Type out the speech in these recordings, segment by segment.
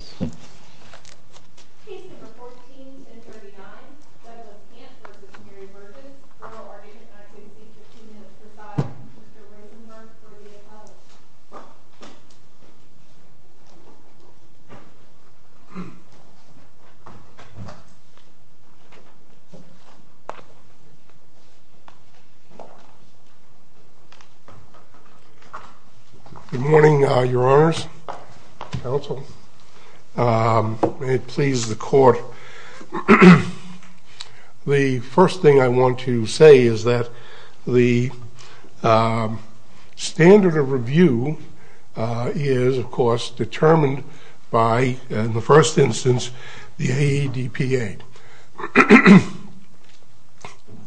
Rotation Act, AB 1595 Case number 14-39, Veteran of Camp v. Mary Berghuis, Rural, Oregon, United States, 15 minutes to 5. Mr. Rosenberg, for the appellate. Good morning, your honors. Counsel. May it please the court. The first thing I want to say is that the standard of review is, of course, determined by, in the first instance, the AEDPA.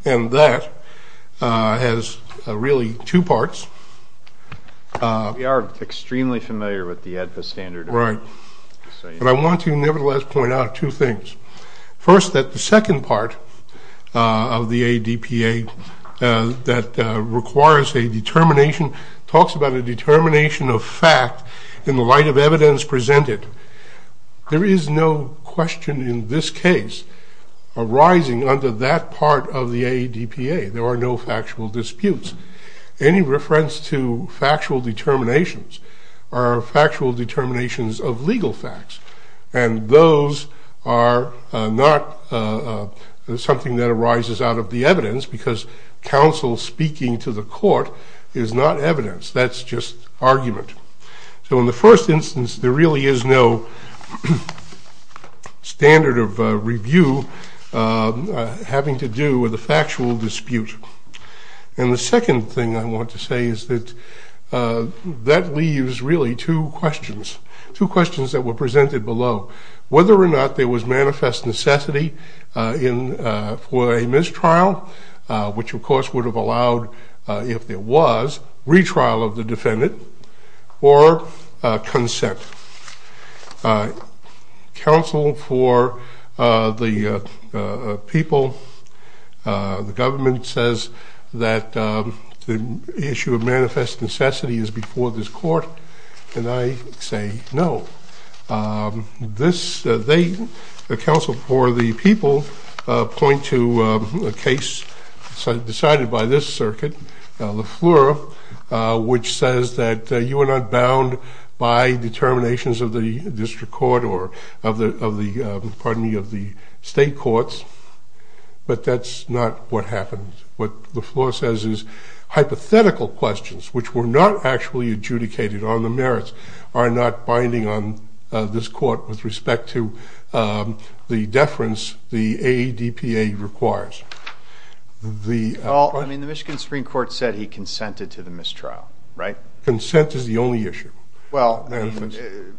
And that has really two parts. We are extremely familiar with the AEDPA standard. Right. But I want to nevertheless point out two things. First, that the second part of the AEDPA that requires a determination, talks about a determination of fact in the light of evidence presented. There is no question in this case arising under that part of the AEDPA. There are no factual disputes. Any reference to factual determinations are factual determinations of legal facts. And those are not something that arises out of the evidence because counsel speaking to the court is not evidence. That's just argument. So in the first instance, there really is no standard of review having to do with a factual dispute. And the second thing I want to say is that that leaves really two questions, two questions that were presented below. Whether or not there was manifest necessity for a mistrial, which of course would have allowed, if there was, retrial of the defendant, or consent. Counsel for the people, the government says that the issue of manifest necessity is before this court, and I say no. The counsel for the people point to a case decided by this circuit, Le Fleur, which says that you are not bound by determinations of the district court, or of the, pardon me, of the state courts, but that's not what happens. What Le Fleur says is hypothetical questions, which were not actually adjudicated on the merits, are not binding on this court with respect to the deference the AEDPA requires. Well, I mean, the Michigan Supreme Court said he consented to the mistrial, right? Consent is the only issue. Well,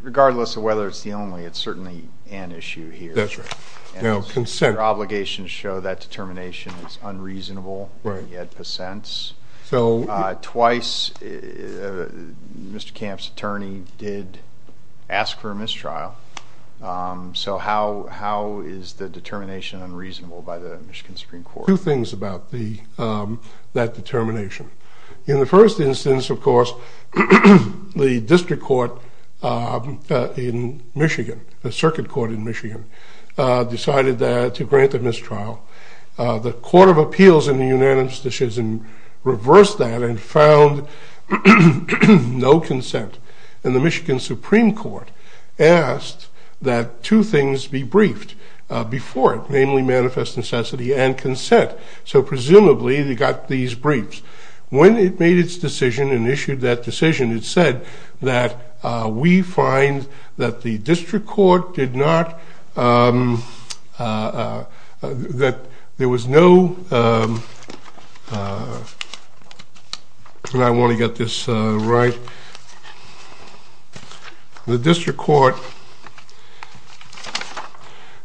regardless of whether it's the only, it's certainly an issue here. That's right. Their obligations show that determination is unreasonable, and he had percents. Twice, Mr. Camp's attorney did ask for a mistrial. So how is the determination unreasonable by the Michigan Supreme Court? Two things about that determination. In the first instance, of course, the district court in Michigan, the circuit court in Michigan, decided to grant the mistrial. The court of appeals in the unanimous decision reversed that and found no consent, and the Michigan Supreme Court asked that two things be briefed before it, namely manifest necessity and consent. So presumably they got these briefs. When it made its decision and issued that decision, it said that we find that the district court did not, that there was no, and I want to get this right, the district court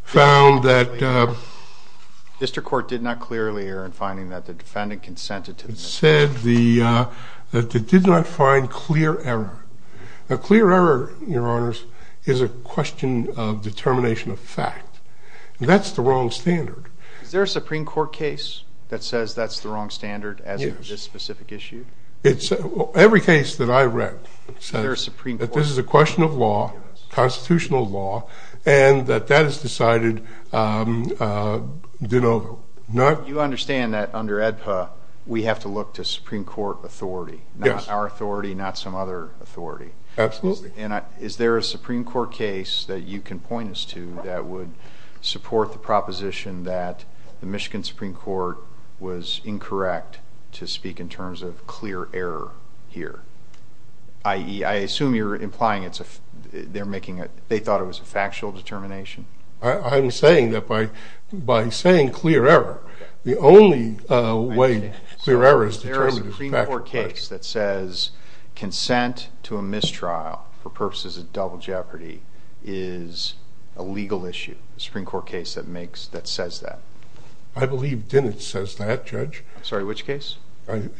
found that the district court did not clearly err in finding that the defendant consented to the mistrial. It said that it did not find clear error. Now, clear error, Your Honors, is a question of determination of fact. That's the wrong standard. Is there a Supreme Court case that says that's the wrong standard as of this specific issue? Every case that I read says that this is a question of law, constitutional law, and that that is decided, you know, not... You understand that under AEDPA, we have to look to Supreme Court authority, not our authority, not some other authority. Absolutely. Is there a Supreme Court case that you can point us to that would support the proposition that the Michigan Supreme Court was incorrect to speak in terms of clear error here? I assume you're implying it's a... They're making a... They thought it was a factual determination? I'm saying that by saying clear error, the only way clear error is determined is a factual fact. There is a Supreme Court case that says consent to a mistrial for purposes of double jeopardy is a legal issue, a Supreme Court case that says that. I believe Dinitz says that, Judge. Sorry, which case?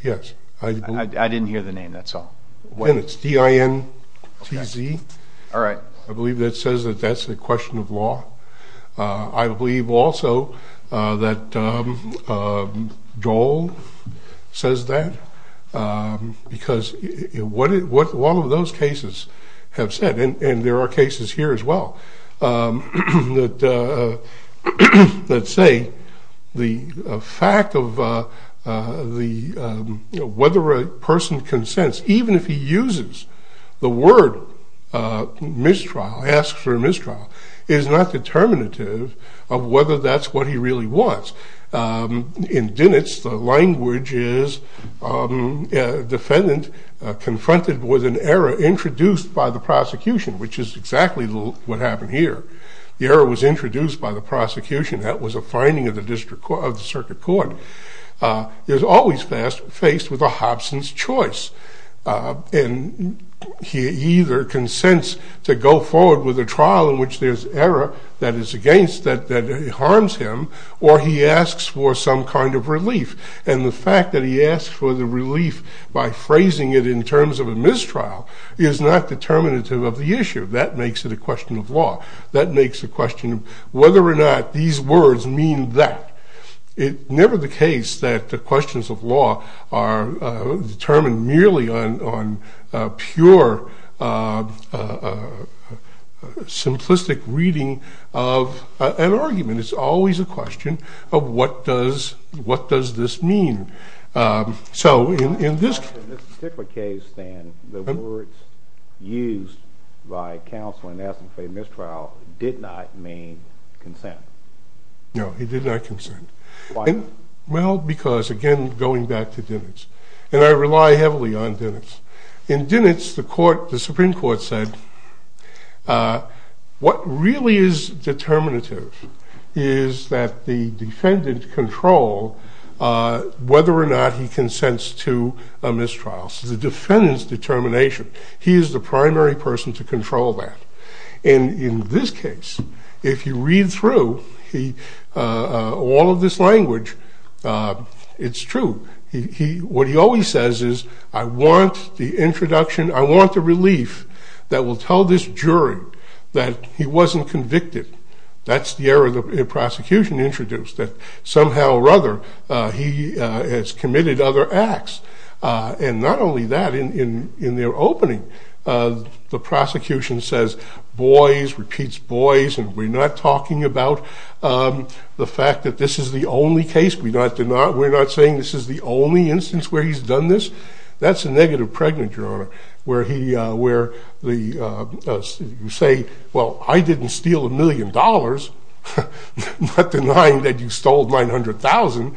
Yes. I didn't hear the name, that's all. Dinitz, D-I-N-T-Z. All right. I believe that says that that's a question of law. I believe also that Joel says that because what all of those cases have said, and there are cases here as well, that say the fact of whether a person consents, even if he uses the word mistrial, asks for a mistrial, is not determinative of whether that's what he really wants. In Dinitz, the language is defendant confronted with an error introduced by the prosecution, which is exactly what happened here. The error was introduced by the prosecution. That was a finding of the circuit court. There's always faced with a Hobson's choice, and he either consents to go forward with a trial in which there's error that is against, that harms him, or he asks for some kind of relief. And the fact that he asks for the relief by phrasing it in terms of a mistrial is not determinative of the issue. That makes it a question of law. That makes a question of whether or not these words mean that. It's never the case that the questions of law are determined merely on pure, simplistic reading of an argument. It's always a question of what does this mean. So in this particular case, then, the words used by counsel in asking for a mistrial did not mean consent. No, he did not consent. Why? Well, because, again, going back to Dinitz. And I rely heavily on Dinitz. In Dinitz, the Supreme Court said what really is determinative is that the defendant control whether or not he consents to a mistrial. So the defendant's determination, he is the primary person to control that. And in this case, if you read through all of this language, it's true. What he always says is, I want the introduction, I want the relief that will tell this jury that he wasn't convicted. That's the error the prosecution introduced, that somehow or other he has committed other acts. And not only that, in their opening, the prosecution says, boys, repeats boys, and we're not talking about the fact that this is the only case. We're not saying this is the only instance where he's done this. That's a negative pregnancy, Your Honor, where you say, well, I didn't steal a million dollars. I'm not denying that you stole $900,000.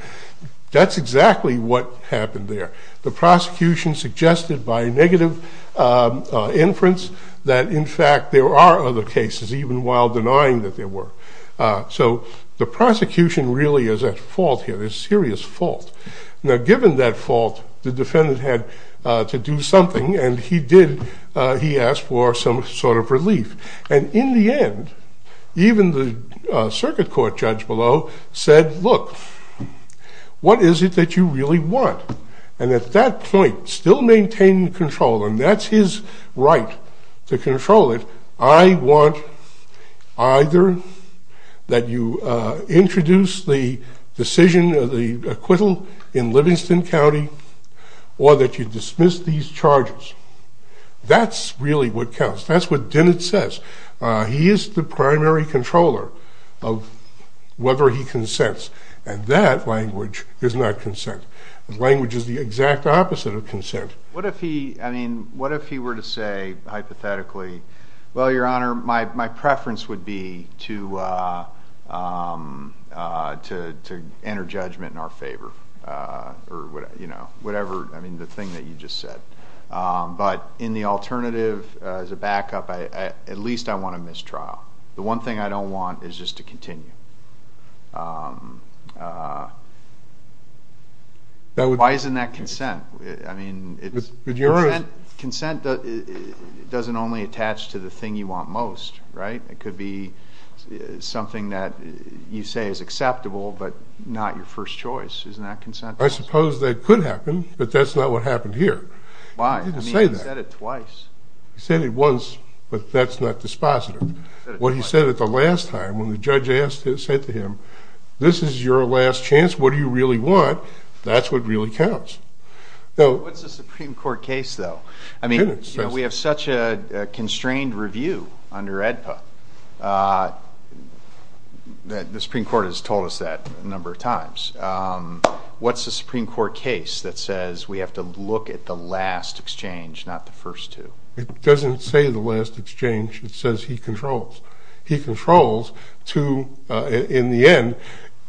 That's exactly what happened there. The prosecution suggested by negative inference that, in fact, there are other cases, even while denying that there were. So the prosecution really is at fault here, a serious fault. Now, given that fault, the defendant had to do something, and he did, he asked for some sort of relief. And in the end, even the circuit court judge below said, look, what is it that you really want? And at that point, still maintaining control, and that's his right to control it, I want either that you introduce the decision of the acquittal in Livingston County, or that you dismiss these charges. That's really what counts. That's what Dennett says. He is the primary controller of whether he consents, and that language is not consent. Language is the exact opposite of consent. What if he were to say, hypothetically, well, Your Honor, my preference would be to enter judgment in our favor, or whatever, I mean, the thing that you just said. But in the alternative, as a backup, at least I want a mistrial. The one thing I don't want is just to continue. Why isn't that consent? I mean, consent doesn't only attach to the thing you want most, right? It could be something that you say is acceptable, but not your first choice. Isn't that consent? I suppose that could happen, but that's not what happened here. Why? He didn't say that. He said it twice. He said it once, but that's not dispositive. What he said at the last time, when the judge said to him, this is your last chance, what do you really want? That's what really counts. What's the Supreme Court case, though? We have such a constrained review under AEDPA. The Supreme Court has told us that a number of times. What's the Supreme Court case that says we have to look at the last exchange, not the first two? It doesn't say the last exchange. It says he controls. He controls to, in the end,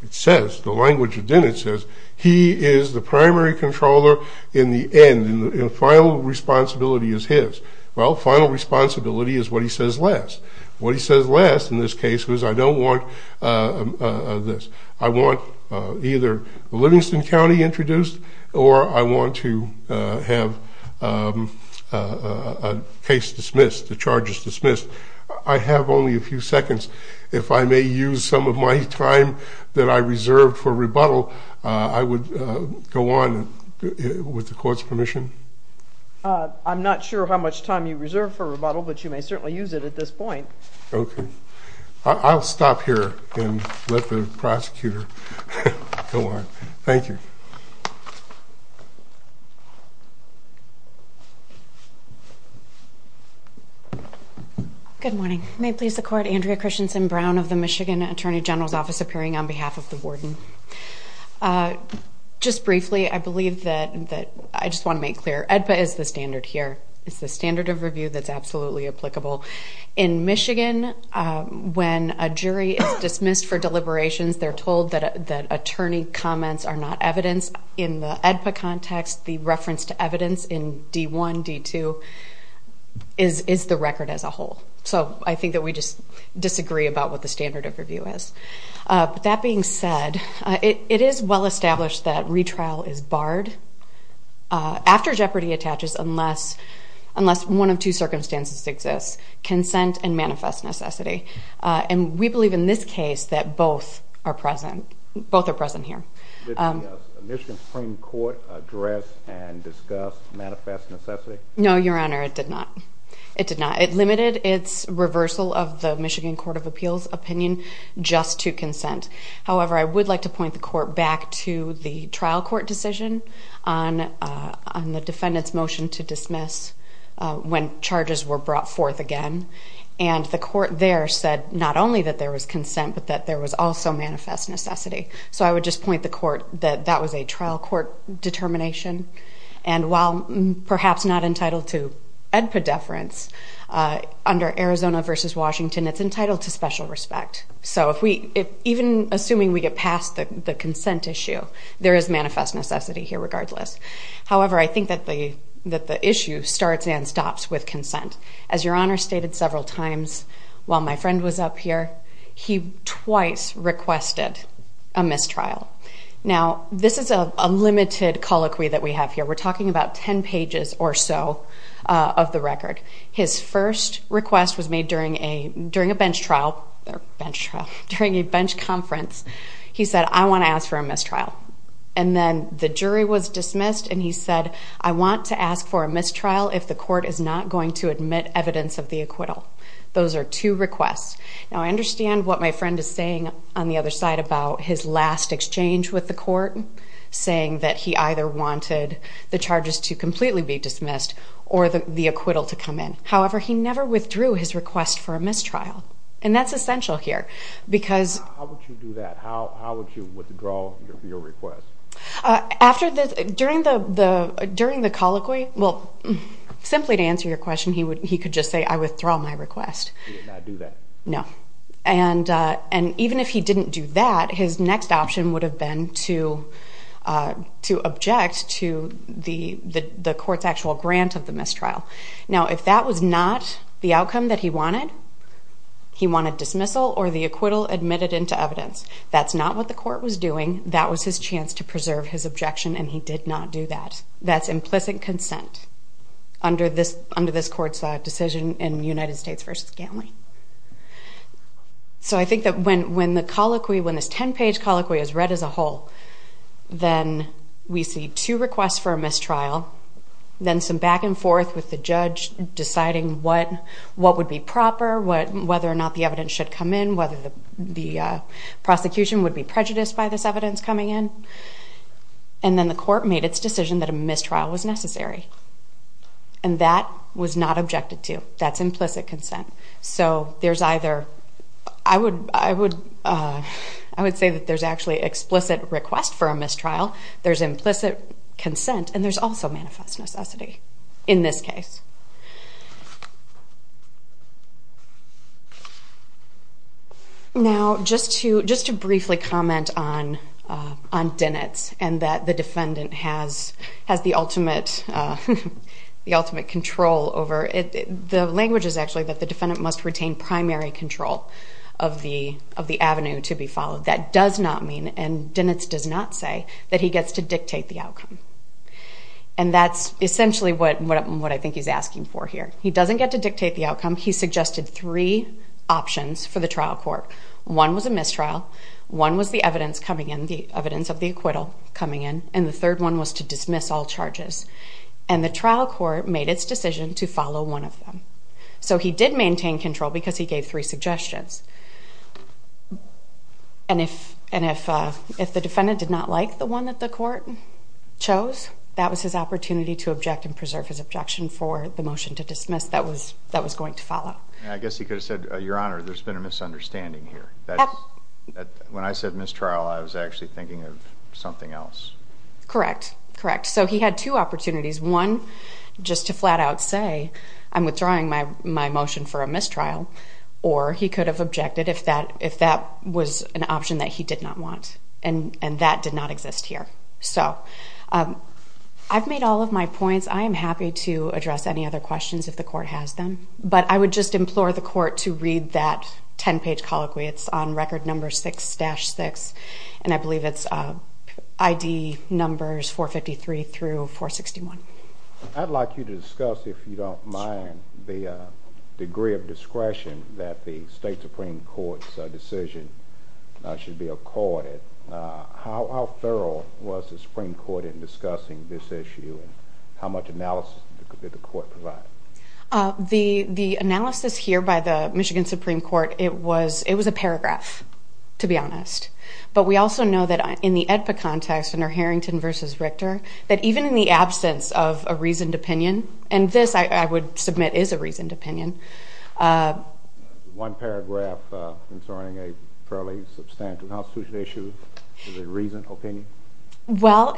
it says, the language within it says, he is the primary controller in the end, and the final responsibility is his. Well, final responsibility is what he says last. What he says last in this case was I don't want this. I want either Livingston County introduced, or I want to have a case dismissed, the charges dismissed. I have only a few seconds. If I may use some of my time that I reserved for rebuttal, I would go on with the court's permission. I'm not sure how much time you reserved for rebuttal, but you may certainly use it at this point. Okay. I'll stop here and let the prosecutor go on. Thank you. Good morning. May it please the Court, Andrea Christensen Brown of the Michigan Attorney General's Office, appearing on behalf of the warden. Just briefly, I believe that, I just want to make clear, AEDPA is the standard here. It's the standard of review that's absolutely applicable. In Michigan, when a jury is dismissed for deliberations, they're told that attorney comments are not evidence. In the AEDPA context, the reference to evidence in D1, D2, is the record as a whole. So I think that we just disagree about what the standard of review is. But that being said, it is well established that retrial is barred after jeopardy attaches unless one of two circumstances exists, consent and manifest necessity. And we believe in this case that both are present here. Did the Michigan Supreme Court address and discuss manifest necessity? No, Your Honor, it did not. It did not. It limited its reversal of the Michigan Court of Appeals opinion just to consent. However, I would like to point the court back to the trial court decision on the defendant's motion to dismiss when charges were brought forth again. And the court there said not only that there was consent but that there was also manifest necessity. So I would just point the court that that was a trial court determination. And while perhaps not entitled to AEDPA deference, under Arizona v. Washington, it's entitled to special respect. So even assuming we get past the consent issue, there is manifest necessity here regardless. However, I think that the issue starts and stops with consent. As Your Honor stated several times while my friend was up here, he twice requested a mistrial. Now, this is a limited colloquy that we have here. We're talking about 10 pages or so of the record. His first request was made during a bench trial or bench trial, during a bench conference. He said, I want to ask for a mistrial. And then the jury was dismissed, and he said, I want to ask for a mistrial if the court is not going to admit evidence of the acquittal. Those are two requests. Now, I understand what my friend is saying on the other side about his last exchange with the court, saying that he either wanted the charges to completely be dismissed or the acquittal to come in. However, he never withdrew his request for a mistrial, and that's essential here. How would you do that? How would you withdraw your request? During the colloquy, well, simply to answer your question, he could just say, I withdraw my request. He did not do that? No. And even if he didn't do that, his next option would have been to object to the court's actual grant of the mistrial. Now, if that was not the outcome that he wanted, he wanted dismissal or the acquittal admitted into evidence. That's not what the court was doing. That was his chance to preserve his objection, and he did not do that. That's implicit consent under this court's decision in United States v. Gantley. So I think that when the colloquy, when this 10-page colloquy is read as a whole, then we see two requests for a mistrial, then some back and forth with the judge deciding what would be proper, whether or not the evidence should come in, whether the prosecution would be prejudiced by this evidence coming in, and then the court made its decision that a mistrial was necessary. And that was not objected to. That's implicit consent. So there's either, I would say that there's actually explicit request for a mistrial, there's implicit consent, and there's also manifest necessity in this case. Now, just to briefly comment on Dennett's and that the defendant has the ultimate control over it, the language is actually that the defendant must retain primary control of the avenue to be followed. That does not mean, and Dennett does not say, that he gets to dictate the outcome. And that's essentially what I think he's asking for here. He doesn't get to dictate the outcome. He suggested three options for the trial court. One was a mistrial. One was the evidence coming in, the evidence of the acquittal coming in. And the third one was to dismiss all charges. And the trial court made its decision to follow one of them. So he did maintain control because he gave three suggestions. And if the defendant did not like the one that the court chose, that was his opportunity to object and preserve his objection for the motion to dismiss that was going to follow. I guess he could have said, Your Honor, there's been a misunderstanding here. When I said mistrial, I was actually thinking of something else. Correct, correct. So he had two opportunities. One, just to flat out say, I'm withdrawing my motion for a mistrial. Or he could have objected if that was an option that he did not want. And that did not exist here. So I've made all of my points. I am happy to address any other questions if the court has them. But I would just implore the court to read that 10-page colloquy. It's on Record No. 6-6, and I believe it's ID numbers 453 through 461. I'd like you to discuss, if you don't mind, the degree of discretion that the state Supreme Court's decision should be accorded. How thorough was the Supreme Court in discussing this issue and how much analysis did the court provide? The analysis here by the Michigan Supreme Court, it was a paragraph, to be honest. But we also know that in the AEDPA context, under Harrington v. Richter, that even in the absence of a reasoned opinion, and this, I would submit, is a reasoned opinion. One paragraph concerning a fairly substantial constitutional issue is a reasoned opinion? Well,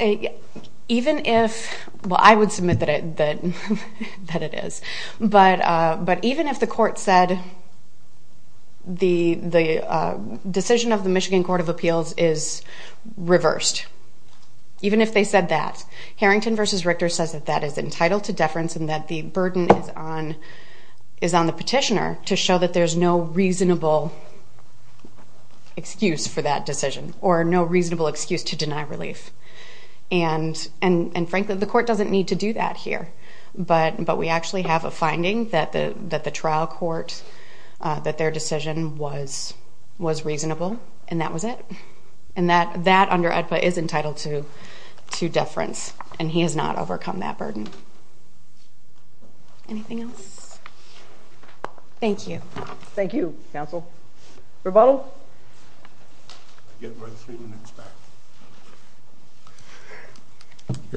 even if... Well, I would submit that it is. But even if the court said the decision of the Michigan Court of Appeals is reversed, even if they said that, Harrington v. Richter says that that is entitled to deference and that the burden is on the petitioner to show that there's no reasonable excuse for that decision or no reasonable excuse to deny relief. And frankly, the court doesn't need to do that here. But we actually have a finding that the trial court, that their decision was reasonable, and that was it. And that under AEDPA is entitled to deference, and he has not overcome that burden. Anything else? Thank you. Thank you, counsel. Rebuttal? Your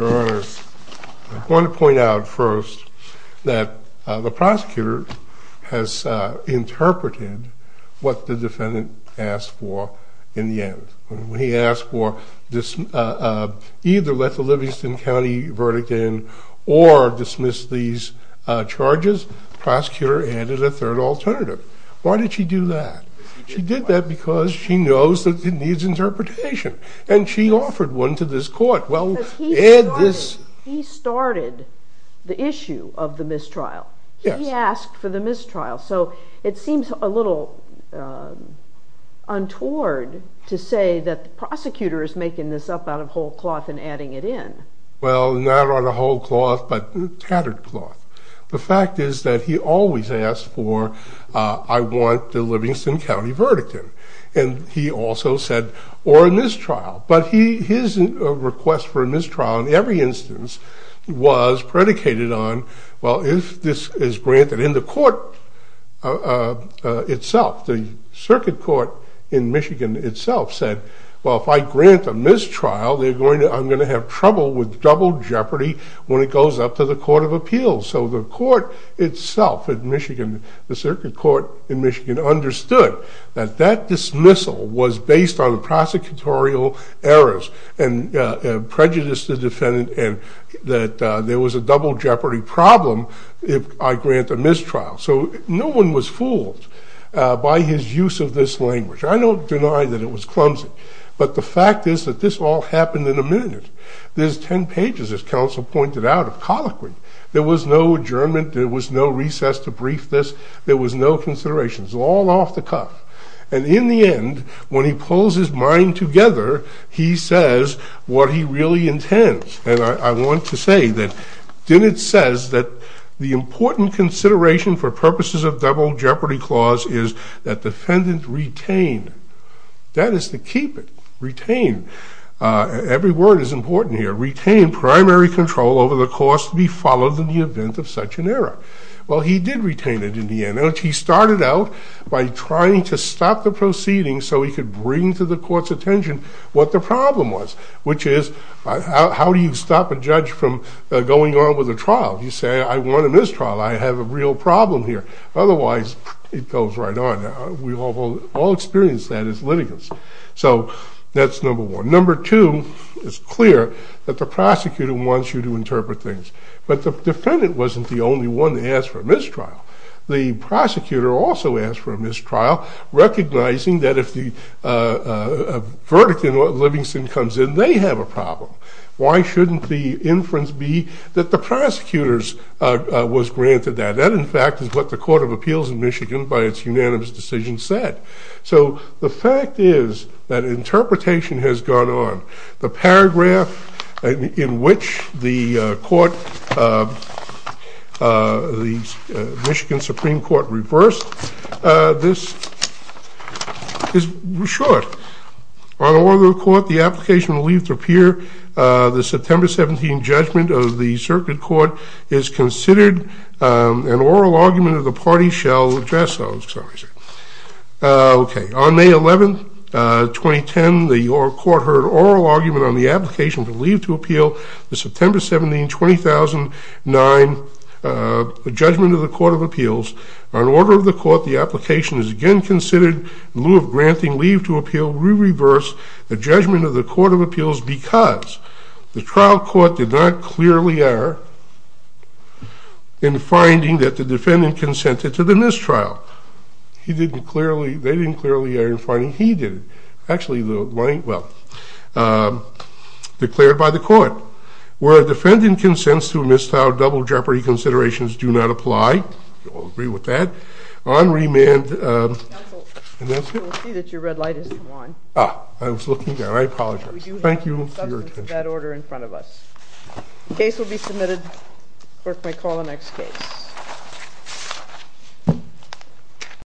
Honor, I want to point out first that the prosecutor has interpreted what the defendant asked for in the end. When he asked for either let the Livingston County verdict in or dismiss these charges, the prosecutor added a third alternative. Why did she do that? She did that because she knows that it needs interpretation, and she offered one to this court. Because he started the issue of the mistrial. He asked for the mistrial, so it seems a little untoward to say that the prosecutor is making this up out of whole cloth and adding it in. Well, not out of whole cloth, but tattered cloth. The fact is that he always asked for, I want the Livingston County verdict in, and he also said, or a mistrial. But his request for a mistrial in every instance was predicated on, well, if this is granted in the court itself, the circuit court in Michigan itself said, well, if I grant a mistrial, I'm going to have trouble with double jeopardy when it goes up to the court of appeals. So the court itself in Michigan, the circuit court in Michigan understood that that dismissal was based on prosecutorial errors and prejudiced the defendant and that there was a double jeopardy problem if I grant a mistrial. So no one was fooled by his use of this language. I don't deny that it was clumsy, but the fact is that this all happened in a minute. There's 10 pages, as counsel pointed out, of colloquy. There was no adjournment. There was no recess to brief this. There was no considerations. All off the cuff. And in the end, when he pulls his mind together, he says what he really intends. And I want to say that Dinitz says that the important consideration for purposes of double jeopardy clause is that defendant retain. That is to keep it. Retain. Every word is important here. Retain primary control over the course to be followed in the event of such an error. Well, he did retain it in the end. He started out by trying to stop the proceeding so he could bring to the court's attention what the problem was, which is how do you stop a judge from going on with a trial? You say, I want a mistrial. Otherwise, it goes right on. We've all experienced that as litigants. So that's number one. Number two, it's clear that the prosecutor wants you to interpret things. But the defendant wasn't the only one to ask for a mistrial. The prosecutor also asked for a mistrial, recognizing that if the verdict in Livingston comes in, they have a problem. Why shouldn't the inference be that the prosecutors was granted that? That, in fact, is what the Court of Appeals in Michigan, by its unanimous decision, said. So the fact is that interpretation has gone on. The paragraph in which the court, the Michigan Supreme Court, reversed this is short. On order of the court, the application will leave to appear the September 17 judgment of the circuit court is considered an oral argument of the party shall address those. On May 11, 2010, the court heard oral argument on the application to leave to appeal the September 17, 2009 judgment of the Court of Appeals. On order of the court, the application is again considered in lieu of granting leave to appeal. We reverse the judgment of the Court of Appeals because the trial court did not clearly err in finding that the defendant consented to the mistrial. They didn't clearly err in finding. He did. Actually, well, declared by the court. Where a defendant consents to a mistrial double jeopardy considerations do not apply. We'll agree with that. On remand... Counsel, you will see that your red light has come on. Ah, I was looking down. I apologize. Thank you for your attention. We do have substance of that order in front of us. Case will be submitted. Clerk may call the next case. Thank you.